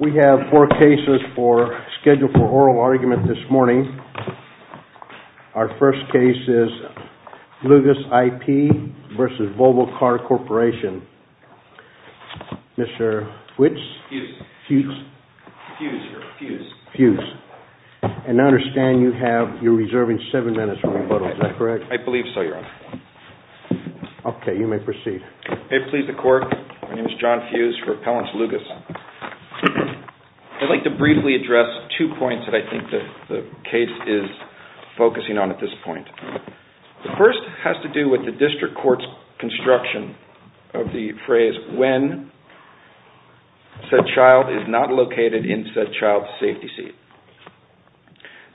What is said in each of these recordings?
We have four cases scheduled for oral argument this morning. Our first case is Lugus IP v. Volvo Car Corporation. I'd like to briefly address two points that I think the case is focusing on at this point. The first has to do with the district court's construction of the phrase when said child is not located in said child's safety seat.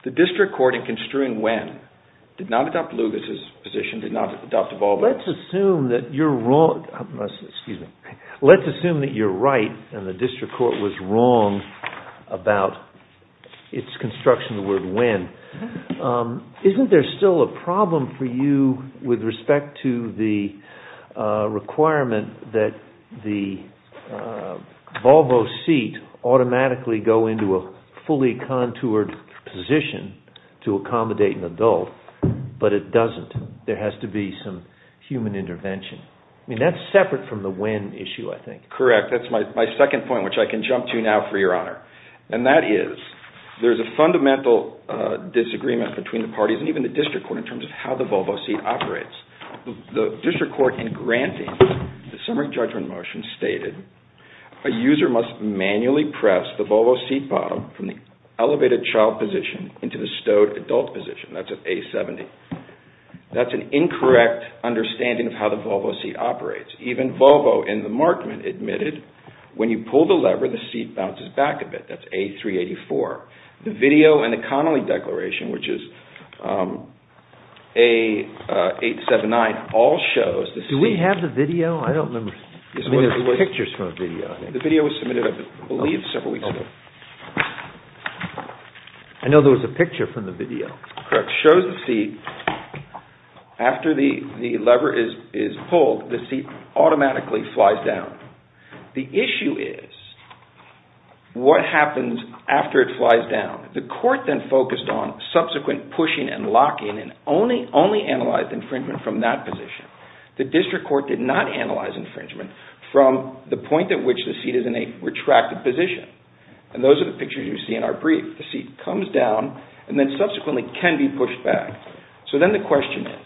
The district court in construing when did not adopt Lugus' position, did not adopt Volvo's. Let's assume that you're right and the district court was wrong about its construction of the word when. Isn't there still a problem for you with respect to the requirement that the Volvo seat automatically go into a fully contoured position to accommodate an adult, but it doesn't? There has to be some human intervention. That's separate from the when issue, I think. Correct. That's my second point, which I can jump to now for your honor. And that is there's a fundamental disagreement between the parties and even the district court in terms of how the Volvo seat operates. The district court in granting the summary judgment motion stated a user must manually press the Volvo seat bottom from the elevated child position into the stowed adult position. That's an A-70. That's an incorrect understanding of how the Volvo seat operates. Even Volvo in the markment admitted when you pull the lever, the seat bounces back a bit. That's A-384. The video in the Connolly Declaration, which is A-879, all shows... Do we have the video? I don't remember. I mean, there's pictures from the video. The video was submitted, I believe, several weeks ago. Correct. It shows the seat. After the lever is pulled, the seat automatically flies down. The issue is what happens after it flies down? The court then focused on subsequent pushing and locking and only analyzed infringement from that position. The district court did not analyze infringement from the point at which the seat is in a retracted position. And those are the pictures you see in our brief. The seat comes down and then subsequently can be pushed back. So then the question is,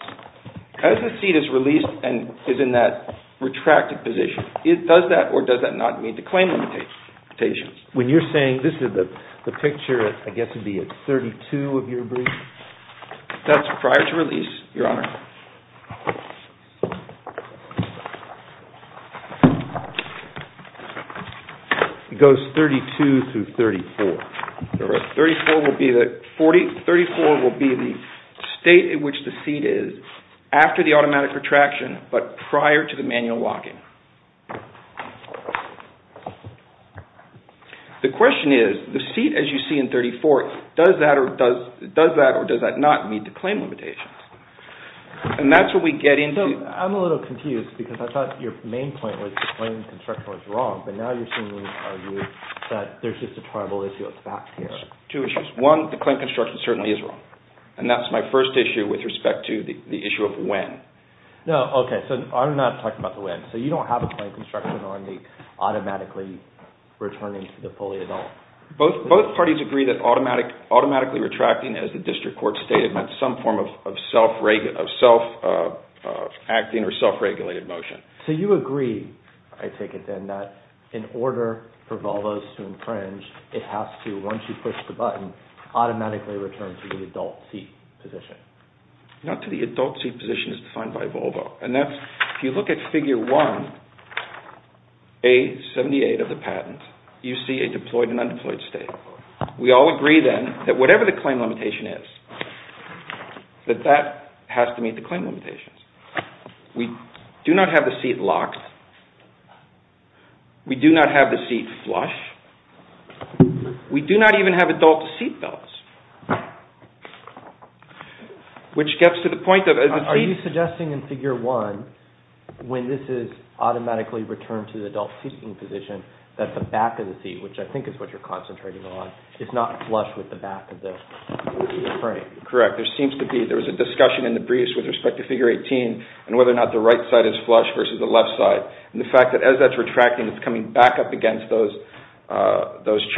as the seat is released and is in that retracted position, does that or does that not mean the claim limitations? When you're saying this is the picture, I guess it would be at 32 of your brief? That's prior to release, Your Honor. It goes 32 through 34. 34 will be the state in which the seat is after the automatic retraction but prior to the manual locking. The question is, the seat, as you see in 34, does that or does that not mean the claim limitations? I'm a little confused because I thought your main point was the claim construction was wrong, but now you're seemingly arguing that there's just a tribal issue at the back here. Two issues. One, the claim construction certainly is wrong. And that's my first issue with respect to the issue of when. Okay, so I'm not talking about the when. So you don't have a claim construction on the automatically returning to the fully adult? Both parties agree that automatically retracting, as the district court stated, meant some form of self-acting or self-regulated motion. So you agree, I take it then, that in order for Volvo to infringe, it has to, once you push the button, automatically return to the adult seat position? Not to the adult seat position as defined by Volvo. And that's, if you look at figure one, A78 of the patent, you see a deployed and undeployed state. We all agree then that whatever the claim limitation is, that that has to meet the claim limitations. We do not have the seat locked. We do not have the seat flush. We do not even have adult seat belts. Are you suggesting in figure one, when this is automatically returned to the adult seating position, that the back of the seat, which I think is what you're concentrating on, is not flush with the back of the frame? Correct. There seems to be, there was a discussion in the briefs with respect to figure 18 and whether or not the right side is flush versus the left side. And the fact that as that's retracting, it's coming back up against those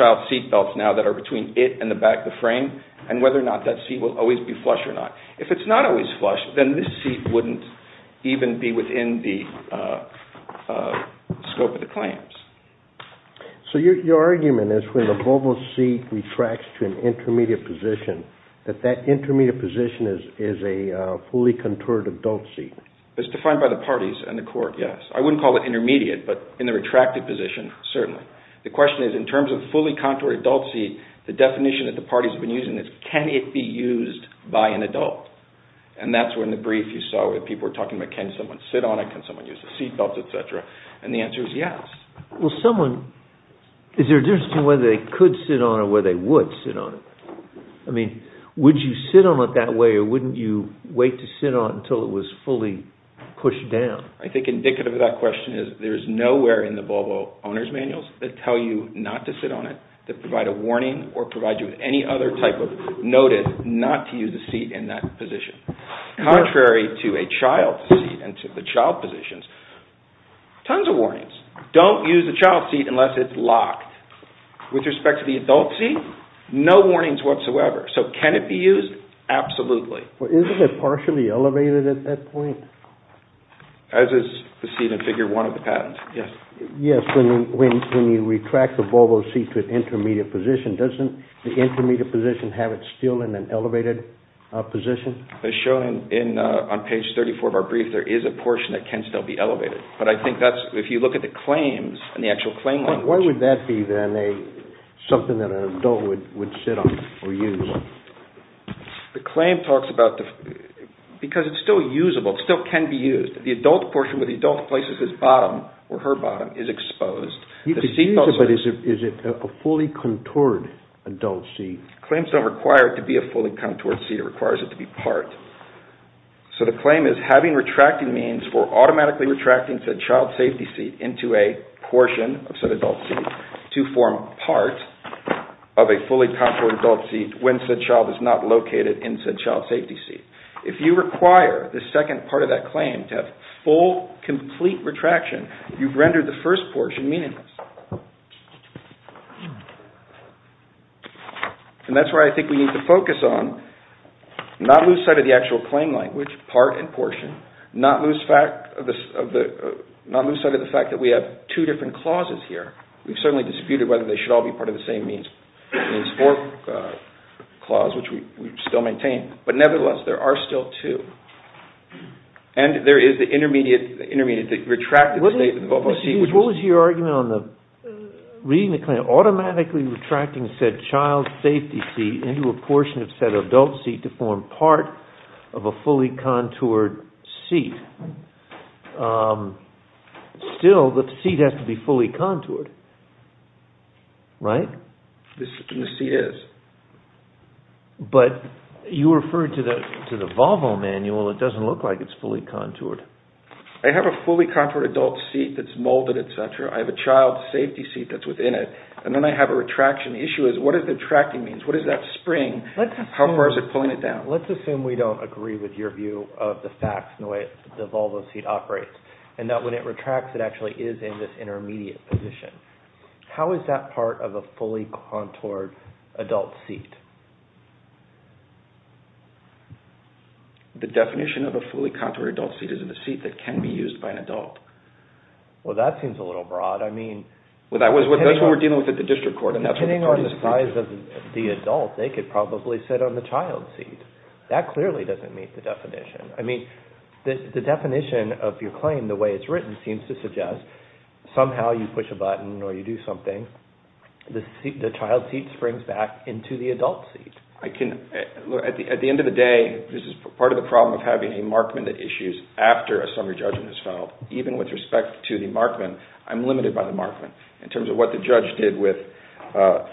child seat belts now that are between it and the back of the frame, and whether or not that seat will always be flush or not. If it's not always flush, then this seat wouldn't even be within the scope of the claims. So your argument is when the Volvo seat retracts to an intermediate position, that that intermediate position is a fully contoured adult seat? It's defined by the parties and the court, yes. I wouldn't call it intermediate, but in the retracted position, certainly. The question is, in terms of fully contoured adult seat, the definition that the parties have been using is, can it be used by an adult? And that's when the brief you saw where people were talking about can someone sit on it, can someone use the seat belts, etc., and the answer is yes. Well, someone, is there a difference between whether they could sit on it or whether they would sit on it? I mean, would you sit on it that way or wouldn't you wait to sit on it until it was fully pushed down? I think indicative of that question is there's nowhere in the Volvo owner's manuals that tell you not to sit on it, that provide a warning or provide you with any other type of notice not to use the seat in that position. Contrary to a child seat and to the child positions, tons of warnings. Don't use the child seat unless it's locked. With respect to the adult seat, no warnings whatsoever. So can it be used? Absolutely. Well, isn't it partially elevated at that point? As is the seat in Figure 1 of the patent, yes. Yes, when you retract the Volvo seat to an intermediate position, doesn't the intermediate position have it still in an elevated position? As shown on page 34 of our brief, there is a portion that can still be elevated, but I think that's, if you look at the claims and the actual claim language. Why would that be then something that an adult would sit on or use? The claim talks about, because it's still usable, it still can be used. The adult portion where the adult places his bottom or her bottom is exposed. You could use it, but is it a fully contoured adult seat? Claims don't require it to be a fully contoured seat, it requires it to be part. So the claim is having retracting means for automatically retracting said child safety seat into a portion of said adult seat to form part of a fully contoured adult seat when said child is not located in said child safety seat. If you require the second part of that claim to have full, complete retraction, you've rendered the first portion meaningless. And that's where I think we need to focus on, not lose sight of the actual claim language, part and portion, not lose sight of the fact that we have two different clauses here. We've certainly disputed whether they should all be part of the same means for clause, which we still maintain. But nevertheless, there are still two. And there is the intermediate, the retracted state of the seat. What was your argument on reading the claim, automatically retracting said child safety seat into a portion of said adult seat to form part of a fully contoured seat? Still, the seat has to be fully contoured, right? The seat is. But you referred to the Volvo manual, it doesn't look like it's fully contoured. I have a fully contoured adult seat that's molded, etc. I have a child safety seat that's within it, and then I have a retraction. The issue is, what does retracting mean? What is that spring? How far is it pulling it down? Let's assume we don't agree with your view of the facts and the way the Volvo seat operates, and that when it retracts, it actually is in this intermediate position. How is that part of a fully contoured adult seat? The definition of a fully contoured adult seat is a seat that can be used by an adult. Well, that seems a little broad. That's what we're dealing with at the district court. Depending on the size of the adult, they could probably sit on the child seat. That clearly doesn't meet the definition. The definition of your claim, the way it's written, seems to suggest somehow you push a button or you do something, the child seat springs back into the adult seat. At the end of the day, this is part of the problem of having a markman that issues after a summary judgment is filed. Even with respect to the markman, I'm limited by the markman. In terms of what the judge did with a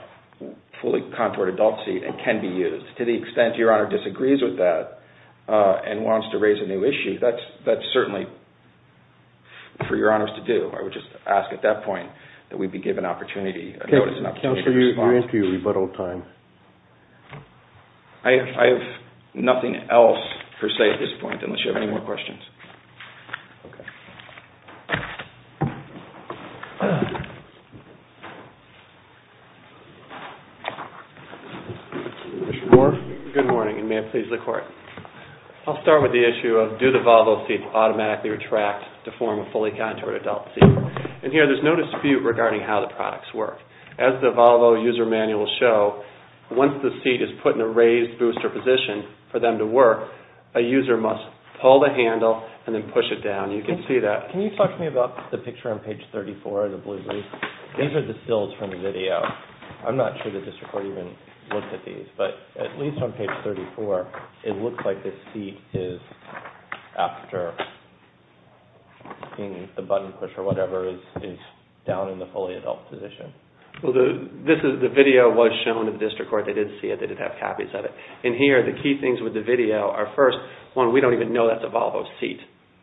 fully contoured adult seat, it can be used. To the extent Your Honor disagrees with that and wants to raise a new issue, that's certainly for Your Honors to do. I would just ask at that point that we be given an opportunity to respond. You're into your rebuttal time. I have nothing else, per se, at this point, unless you have any more questions. Okay. Mr. Moore? Good morning, and may it please the court. I'll start with the issue of do the Volvo seats automatically retract to form a fully contoured adult seat. Here, there's no dispute regarding how the products work. As the Volvo user manuals show, once the seat is put in a raised booster position for them to work, a user must pull the handle and then push it down. You can see that. Can you talk to me about the picture on page 34 of the blue brief? These are distilled from the video. I'm not sure the district court even looked at these, but at least on page 34, it looks like the seat is, after the button push or whatever, is down in the fully adult position. The video was shown to the district court. They did see it. They did have copies of it. Here, the key things with the video are, first, we don't even know that's a Volvo seat.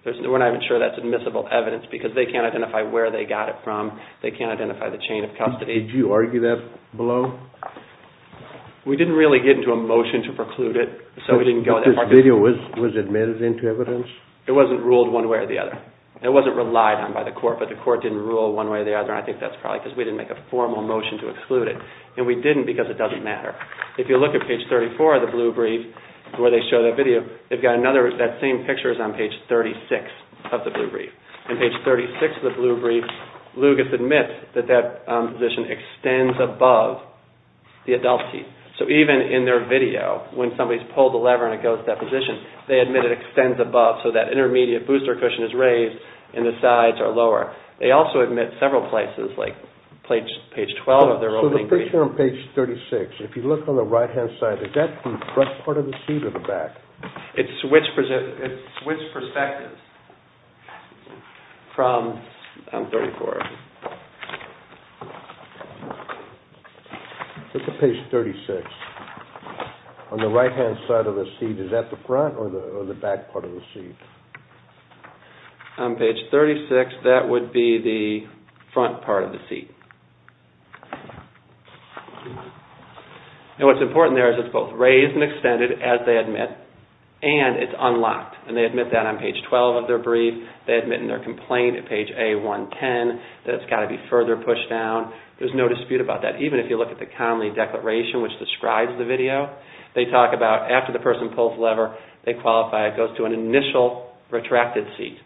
We're not even sure that's admissible evidence because they can't identify where they got it from. They can't identify the chain of custody. Did you argue that below? We didn't really get into a motion to preclude it, so we didn't go that far. This video was admitted into evidence? It wasn't ruled one way or the other. It wasn't relied on by the court, but the court didn't rule one way or the other, and I think that's probably because we didn't make a formal motion to exclude it. We didn't because it doesn't matter. If you look at page 34 of the blue brief, where they show that video, that same picture is on page 36 of the blue brief. On page 36 of the blue brief, Lugas admits that that position extends above the adult seat. So even in their video, when somebody's pulled the lever and it goes to that position, they admit it extends above so that intermediate booster cushion is raised and the sides are lower. They also admit several places, like page 12 of their opening brief. That position on page 36, if you look on the right-hand side, is that the front part of the seat or the back? It's switched perspectives from 34. Look at page 36. On the right-hand side of the seat, is that the front or the back part of the seat? On page 36, that would be the front part of the seat. And what's important there is it's both raised and extended, as they admit, and it's unlocked. And they admit that on page 12 of their brief. They admit in their complaint at page A110 that it's got to be further pushed down. There's no dispute about that, even if you look at the Conley Declaration, which describes the video. They talk about after the person pulls the lever, they qualify. It goes to an initial retracted seat.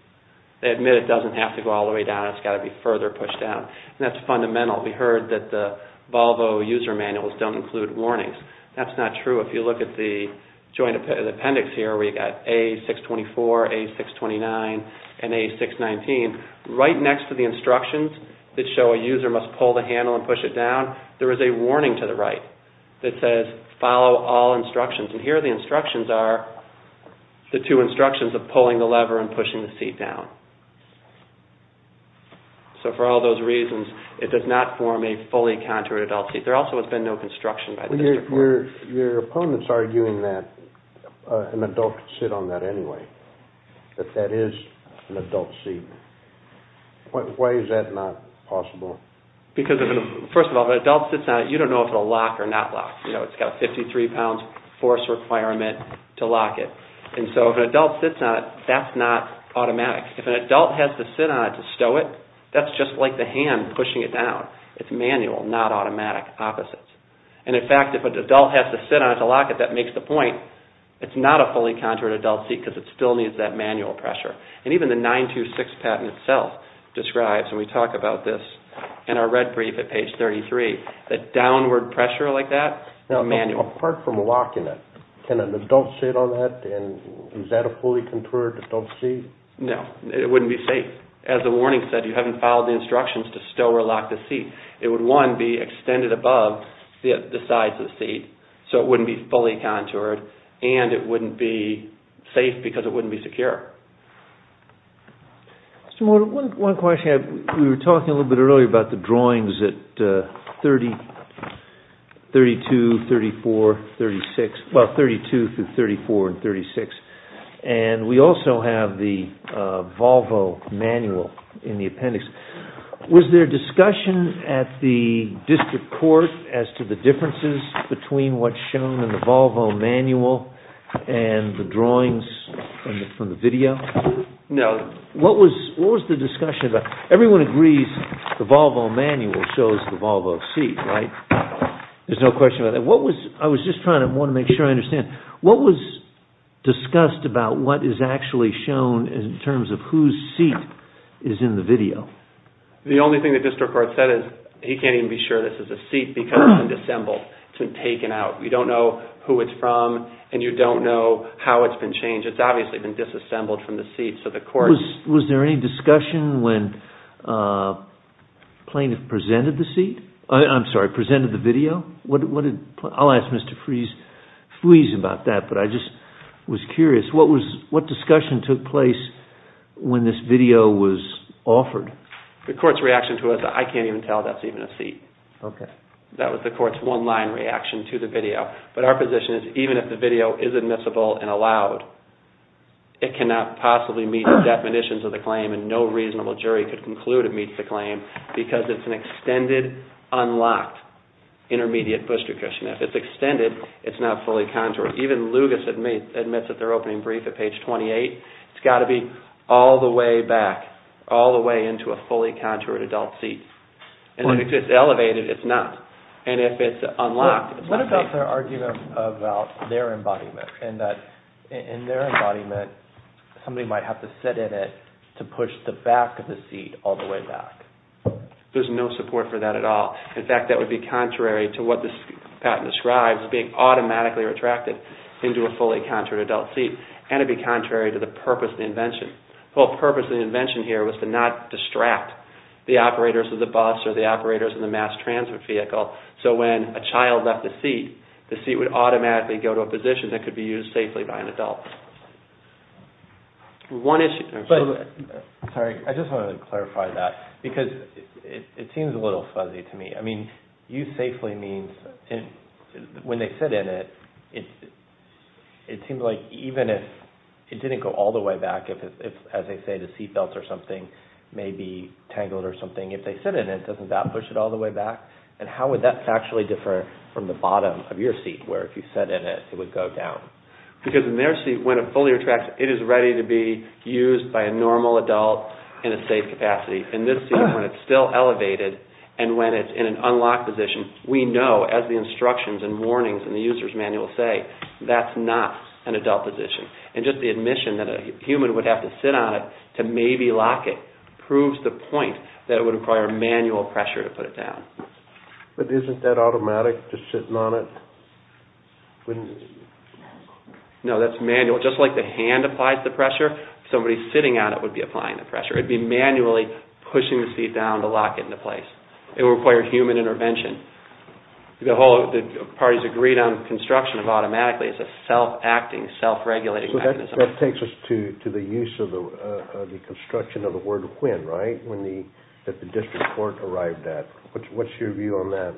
They admit it doesn't have to go all the way down. It's got to be further pushed down. And that's fundamental. We heard that the Volvo user manuals don't include warnings. That's not true. If you look at the joint appendix here, we've got A624, A629, and A619. Right next to the instructions that show a user must pull the handle and push it down, there is a warning to the right that says follow all instructions. And here the instructions are the two instructions of pulling the lever and pushing the seat down. So for all those reasons, it does not form a fully contoured adult seat. There also has been no construction by the district court. Your opponent's arguing that an adult could sit on that anyway, that that is an adult seat. Why is that not possible? First of all, if an adult sits on it, you don't know if it will lock or not lock. It's got a 53-pound force requirement to lock it. And so if an adult sits on it, that's not automatic. If an adult has to sit on it to stow it, that's just like the hand pushing it down. It's manual, not automatic. Opposites. And in fact, if an adult has to sit on it to lock it, that makes the point. It's not a fully contoured adult seat because it still needs that manual pressure. And even the 926 patent itself describes, and we talk about this in our red brief at page 33, that downward pressure like that is manual. Apart from locking it, can an adult sit on that? And is that a fully contoured adult seat? No, it wouldn't be safe. As the warning said, you haven't followed the instructions to stow or lock the seat. It would, one, be extended above the sides of the seat so it wouldn't be fully contoured, and it wouldn't be safe because it wouldn't be secure. Mr. Morton, one question. We were talking a little bit earlier about the drawings at 32, 34, 36. Well, 32 through 34 and 36. And we also have the Volvo manual in the appendix. Was there discussion at the district court as to the differences between what's shown in the Volvo manual and the drawings from the video? No. What was the discussion about? Everyone agrees the Volvo manual shows the Volvo seat, right? There's no question about that. I was just trying to make sure I understand. What was discussed about what is actually shown in terms of whose seat is in the video? The only thing the district court said is he can't even be sure this is a seat because it's been disassembled. It's been taken out. You don't know who it's from and you don't know how it's been changed. It's obviously been disassembled from the seat. Was there any discussion when the plaintiff presented the seat? I'm sorry, presented the video? I'll ask Mr. Fries about that, but I just was curious. What discussion took place when this video was offered? The court's reaction to it was I can't even tell that's even a seat. That was the court's one-line reaction to the video. But our position is even if the video is admissible and allowed, it cannot possibly meet the definitions of the claim and no reasonable jury could conclude it meets the claim because it's an extended, unlocked intermediate booster cushion. If it's extended, it's not fully contoured. Even Lugas admits at their opening brief at page 28, it's got to be all the way back, all the way into a fully contoured adult seat. And if it's elevated, it's not. And if it's unlocked, it's not. What about their argument about their embodiment and that in their embodiment, somebody might have to sit in it to push the back of the seat all the way back? There's no support for that at all. In fact, that would be contrary to what this patent describes, being automatically retracted into a fully contoured adult seat. And it would be contrary to the purpose of the invention. The whole purpose of the invention here was to not distract the operators of the bus or the operators of the mass transfer vehicle so when a child left the seat, the seat would automatically go to a position that could be used safely by an adult. Sorry, I just wanted to clarify that because it seems a little fuzzy to me. I mean, use safely means when they sit in it, it seems like even if it didn't go all the way back, as they say, the seat belts or something may be tangled or something. If they sit in it, doesn't that push it all the way back? And how would that actually differ from the bottom of your seat where if you sit in it, it would go down? Because in their seat, when it fully retracts, it is ready to be used by a normal adult in a safe capacity. In this seat, when it's still elevated and when it's in an unlocked position, we know as the instructions and warnings in the user's manual say, that's not an adult position. And just the admission that a human would have to sit on it to maybe lock it proves the point that it would require manual pressure to put it down. But isn't that automatic, just sitting on it? No, that's manual. Just like the hand applies the pressure, somebody sitting on it would be applying the pressure. It would be manually pushing the seat down to lock it into place. It would require human intervention. The parties agreed on the construction of automatically. It's a self-acting, self-regulating mechanism. That takes us to the use of the construction of the word when, right? When the, that the district court arrived at. What's your view on that?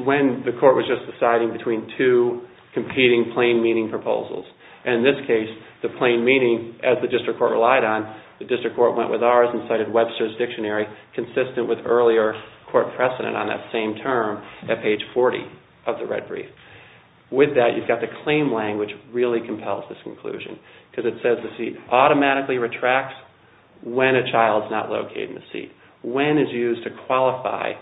When the court was just deciding between two competing plain meaning proposals. And in this case, the plain meaning, as the district court relied on, the district court went with ours and cited Webster's Dictionary, consistent with earlier court precedent on that same term, at page 40 of the red brief. With that, you've got the claim language really compels this conclusion. Because it says the seat automatically retracts when a child is not located in the seat. When is used to qualify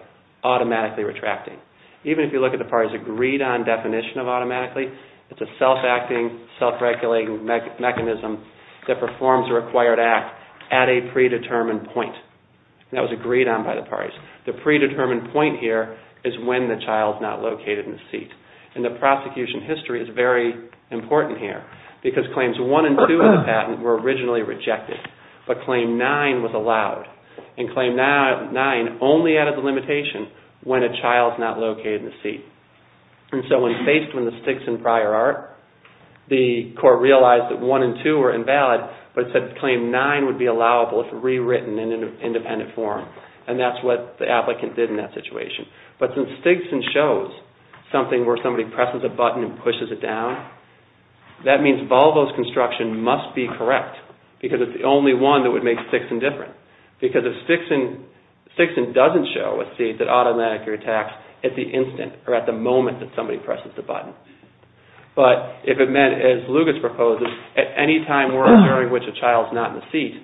automatically retracting? Even if you look at the parties agreed on definition of automatically, it's a self-acting, self-regulating mechanism that performs a required act at a predetermined point. That was agreed on by the parties. The predetermined point here is when the child is not located in the seat. And the prosecution history is very important here. Because claims 1 and 2 of the patent were originally rejected. But claim 9 was allowed. And claim 9 only added the limitation when a child is not located in the seat. And so when faced with the Stigson prior art, the court realized that 1 and 2 were invalid, but said claim 9 would be allowable if rewritten in an independent form. And that's what the applicant did in that situation. But since Stigson shows something where somebody presses a button and pushes it down, that means Volvo's construction must be correct. Because it's the only one that would make Stigson different. Because if Stigson doesn't show a seat that automatically retracts at the instant, or at the moment that somebody presses the button. But if it meant, as Lugas proposes, at any time during which a child is not in the seat,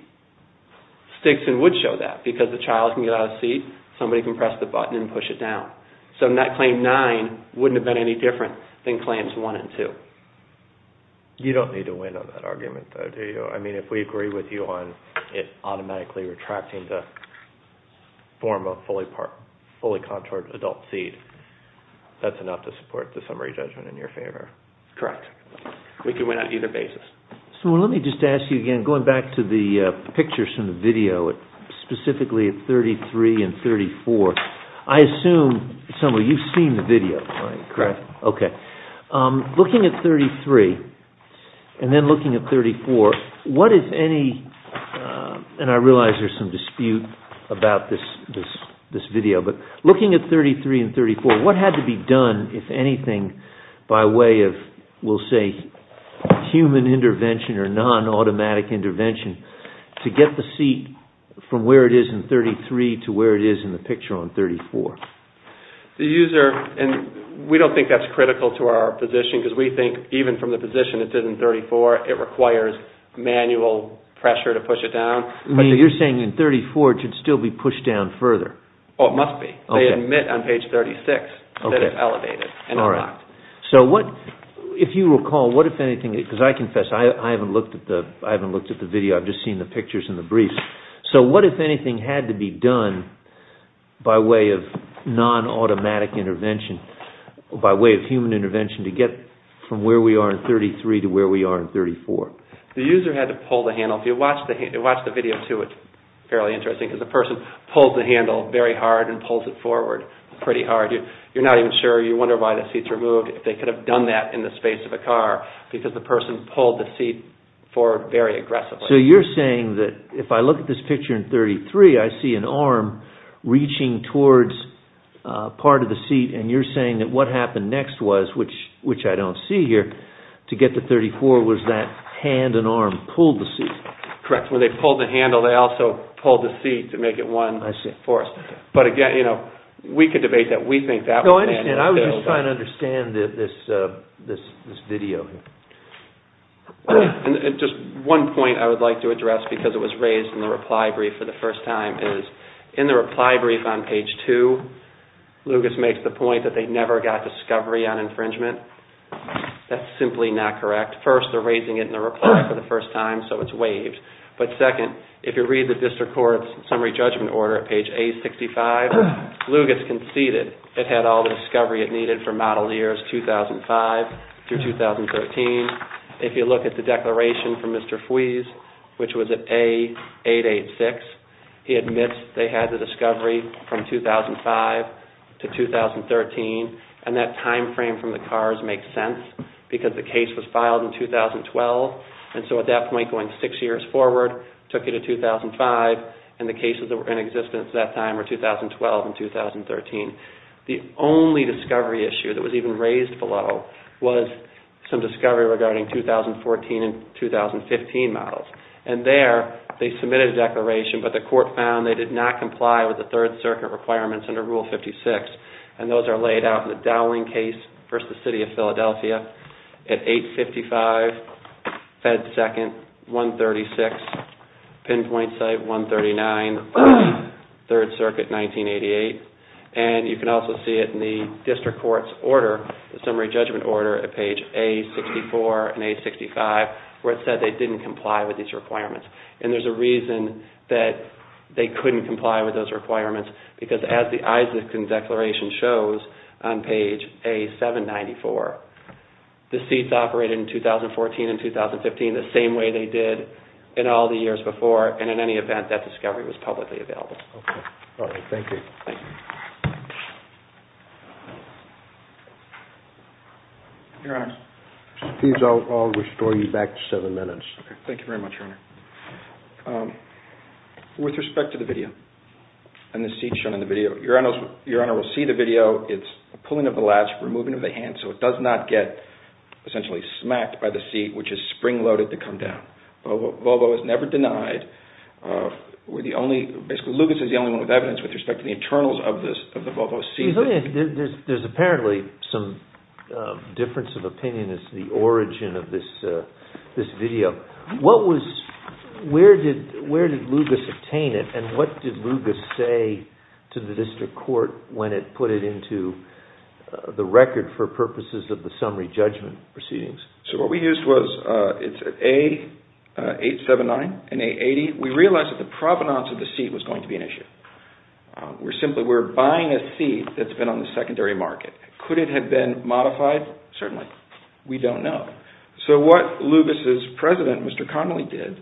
Stigson would show that because the child can get out of the seat, somebody can press the button and push it down. So claim 9 wouldn't have been any different than claims 1 and 2. You don't need to win on that argument though, do you? I mean, if we agree with you on it automatically retracting to form a fully contoured adult seat, that's enough to support the summary judgment in your favor. Correct. We can win on either basis. So let me just ask you again, going back to the pictures from the video, specifically at 33 and 34, I assume, Samuel, you've seen the video, right? Correct. Okay. Looking at 33 and then looking at 34, what, if any, and I realize there's some dispute about this video, but looking at 33 and 34, what had to be done, if anything, by way of, we'll say, human intervention or non-automatic intervention to get the seat from where it is in 33 to where it is in the picture on 34? The user, and we don't think that's critical to our position, because we think even from the position it did in 34, it requires manual pressure to push it down. You're saying in 34 it should still be pushed down further? Oh, it must be. They admit on page 36 that it's elevated and unlocked. If you recall, what, if anything, because I confess I haven't looked at the video, I've just seen the pictures and the briefs. So what, if anything, had to be done by way of non-automatic intervention, by way of human intervention, to get from where we are in 33 to where we are in 34? The user had to pull the handle. If you watch the video, too, it's fairly interesting, because the person pulls the handle very hard and pulls it forward pretty hard. You're not even sure, you wonder why the seat's removed, if they could have done that in the space of a car, because the person pulled the seat forward very aggressively. So you're saying that if I look at this picture in 33, I see an arm reaching towards part of the seat, and you're saying that what happened next was, which I don't see here, to get to 34 was that hand and arm pulled the seat. Correct. When they pulled the handle, they also pulled the seat to make it one force. But again, we could debate that. No, I understand. I was just trying to understand this video. Just one point I would like to address, because it was raised in the reply brief for the first time, is in the reply brief on page 2, Lucas makes the point that they never got discovery on infringement. That's simply not correct. First, they're raising it in the reply for the first time, so it's waived. But second, if you read the District Court's summary judgment order at page 865, Lucas conceded it had all the discovery it needed for model years 2005 through 2013. If you look at the declaration from Mr. Fweese, which was at A886, he admits they had the discovery from 2005 to 2013, and that time frame from the cars makes sense, because the case was filed in 2012. And so at that point, going six years forward, took you to 2005, and the cases that were in existence at that time were 2012 and 2013. The only discovery issue that was even raised below was some discovery regarding 2014 and 2015 models. And there, they submitted a declaration, but the court found they did not comply with the Third Circuit requirements under Rule 56. And those are laid out in the Dowling case versus the City of Philadelphia at 855. Fed second, 136. Pinpoint site, 139. Third Circuit, 1988. And you can also see it in the District Court's order, the summary judgment order at page A64 and A65, where it said they didn't comply with these requirements. And there's a reason that they couldn't comply with those requirements, because as the Isaacson Declaration shows on page A794, the seats operated in 2014 and 2015 the same way they did in all the years before, and in any event, that discovery was publicly available. Okay. All right. Thank you. Thank you. Your Honor. Please, I'll restore you back to seven minutes. Okay. Thank you very much, Your Honor. With respect to the video and the seat shown in the video, Your Honor will see the video. It's a pulling of the latch, removing of the hand, so it does not get essentially smacked by the seat, which is spring-loaded to come down. Volvo is never denied. Basically, Lugas is the only one with evidence with respect to the internals of the Volvo seat. There's apparently some difference of opinion as to the origin of this video. Where did Lugas obtain it, and what did Lugas say to the district court when it put it into the record for purposes of the summary judgment proceedings? So what we used was, it's A879 and A80. We realized that the provenance of the seat was going to be an issue. We're simply, we're buying a seat that's been on the secondary market. Could it have been modified? Certainly. We don't know. So what Lugas' president, Mr. Connolly, did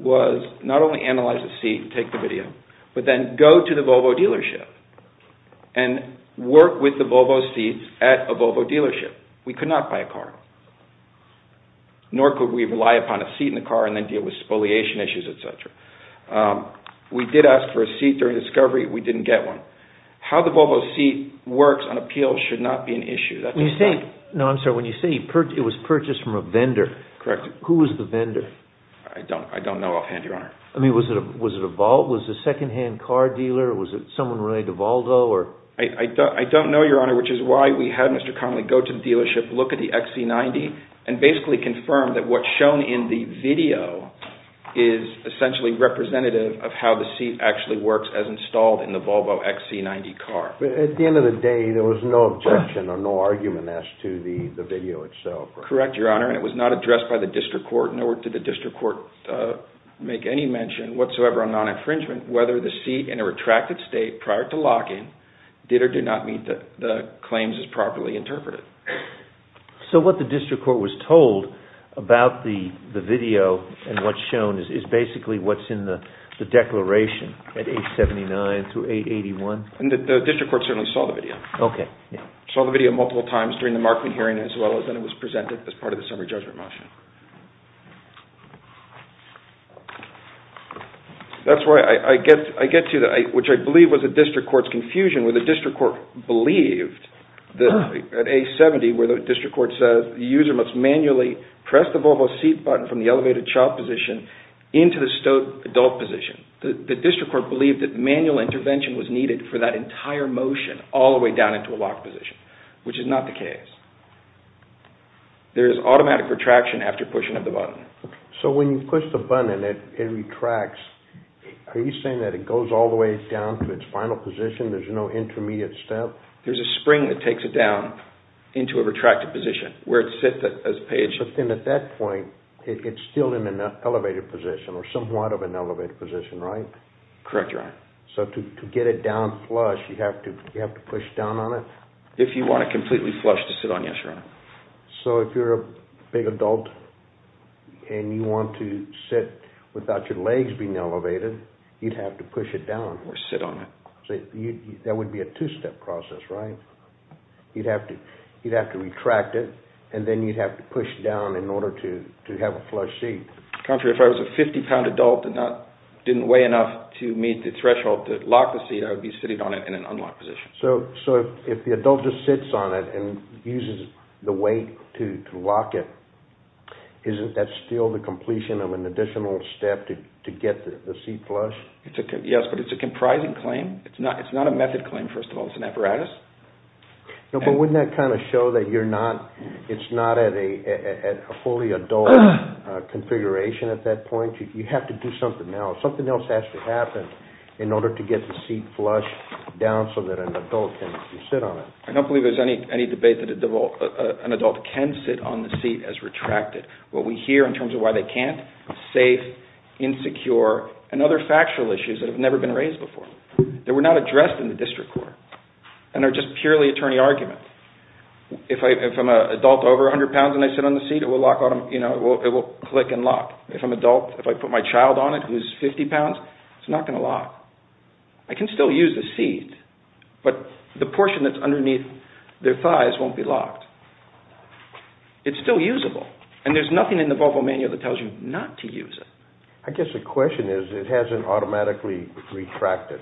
was not only analyze the seat, take the video, but then go to the Volvo dealership and work with the Volvo seat at a Volvo dealership. We could not buy a car. Nor could we rely upon a seat in the car and then deal with spoliation issues, etc. We did ask for a seat during discovery. We didn't get one. How the Volvo seat works on appeal should not be an issue. When you say it was purchased from a vendor, who was the vendor? I don't know offhand, Your Honor. I mean, was it a second-hand car dealer? Was it someone related to Volvo? I don't know, Your Honor, which is why we had Mr. Connolly go to the dealership, look at the XC90, and basically confirm that what's shown in the video is essentially representative of how the seat actually works as installed in the Volvo XC90 car. At the end of the day, there was no objection or no argument as to the video itself. Correct, Your Honor, and it was not addressed by the district court, nor did the district court make any mention whatsoever on non-infringement, whether the seat in a retracted state prior to lock-in did or did not meet the claims as properly interpreted. So what the district court was told about the video and what's shown is basically what's in the declaration at 879 through 881? The district court certainly saw the video. Saw the video multiple times during the Markman hearing as well as when it was presented as part of the summary judgment motion. That's where I get to, which I believe was the district court's confusion, where the district court believed at 870 where the district court says the user must manually press the Volvo seat button from the elevated child position into the stowed adult position. The district court believed that manual intervention was needed for that entire motion all the way down into a locked position, which is not the case. There is automatic retraction after pushing of the button. So when you push the button and it retracts, are you saying that it goes all the way down to its final position? There's no intermediate step? There's a spring that takes it down into a retracted position where it sits as a page. But then at that point, it's still in an elevated position or somewhat of an elevated position, right? Correct, Your Honor. So to get it down flush, you have to push down on it? If you want it completely flush to sit on, yes, Your Honor. So if you're a big adult and you want to sit without your legs being elevated, you'd have to push it down? Or sit on it. That would be a two-step process, right? You'd have to retract it, and then you'd have to push down in order to have a flush seat. Contrary, if I was a 50-pound adult and didn't weigh enough to meet the threshold to lock the seat, I would be sitting on it in an unlocked position. So if the adult just sits on it and uses the weight to lock it, isn't that still the completion of an additional step to get the seat flushed? Yes, but it's a comprising claim. It's not a method claim, first of all. It's an apparatus. But wouldn't that kind of show that it's not at a fully adult configuration at that point? You have to do something else. Something else has to happen in order to get the seat flushed down so that an adult can sit on it. I don't believe there's any debate that an adult can sit on the seat as retracted. What we hear in terms of why they can't is safe, insecure, and other factual issues that have never been raised before. They were not addressed in the district court and are just purely attorney arguments. If I'm an adult over 100 pounds and I sit on the seat, it will click and lock. If I'm an adult, if I put my child on it who's 50 pounds, it's not going to lock. I can still use the seat, but the portion that's underneath their thighs won't be locked. It's still usable, and there's nothing in the Volvo manual that tells you not to use it. I guess the question is it hasn't automatically retracted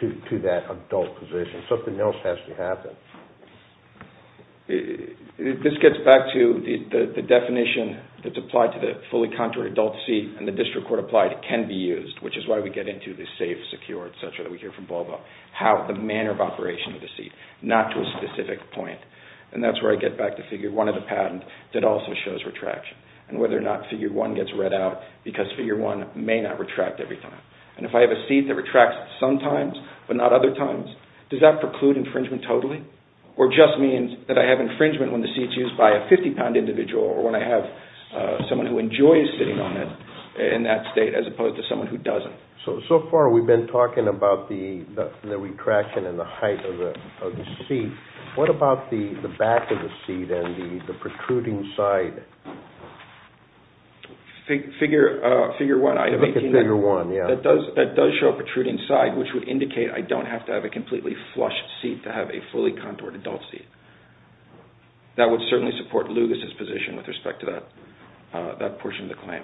to that adult position. Something else has to happen. This gets back to the definition that's applied to the fully contoured adult seat, and the district court applied it can be used, which is why we get into the safe, secure, etc. that we hear from Volvo, the manner of operation of the seat, not to a specific point. That's where I get back to Figure 1 of the patent that also shows retraction. Whether or not Figure 1 gets read out, because Figure 1 may not retract every time. If I have a seat that retracts sometimes but not other times, does that preclude infringement totally? Or just means that I have infringement when the seat's used by a 50-pound individual or when I have someone who enjoys sitting on it in that state as opposed to someone who doesn't. So far we've been talking about the retraction and the height of the seat. What about the back of the seat and the protruding side? Figure 1, that does show a protruding side, which would indicate I don't have to have a completely flushed seat to have a fully contoured adult seat. That would certainly support Lugas' position with respect to that portion of the claim.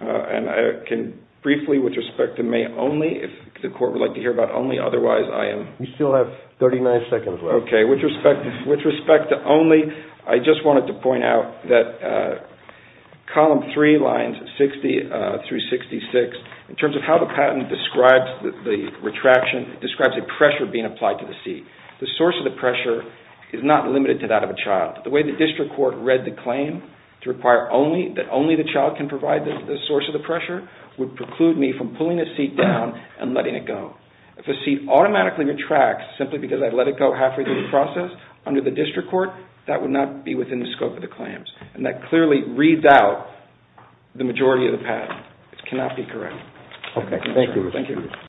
And I can briefly, with respect to May only, if the court would like to hear about only, otherwise I am... We still have 39 seconds left. Okay, with respect to only, I just wanted to point out that column 3, lines 60 through 66, in terms of how the patent describes the retraction, it describes a pressure being applied to the seat. The source of the pressure is not limited to that of a child. The way the district court read the claim to require that only the child can provide the source of the pressure would preclude me from pulling the seat down and letting it go. If a seat automatically retracts simply because I let it go halfway through the process under the district court, that would not be within the scope of the claims. And that clearly reads out the majority of the patent. It cannot be correct. Okay, thank you.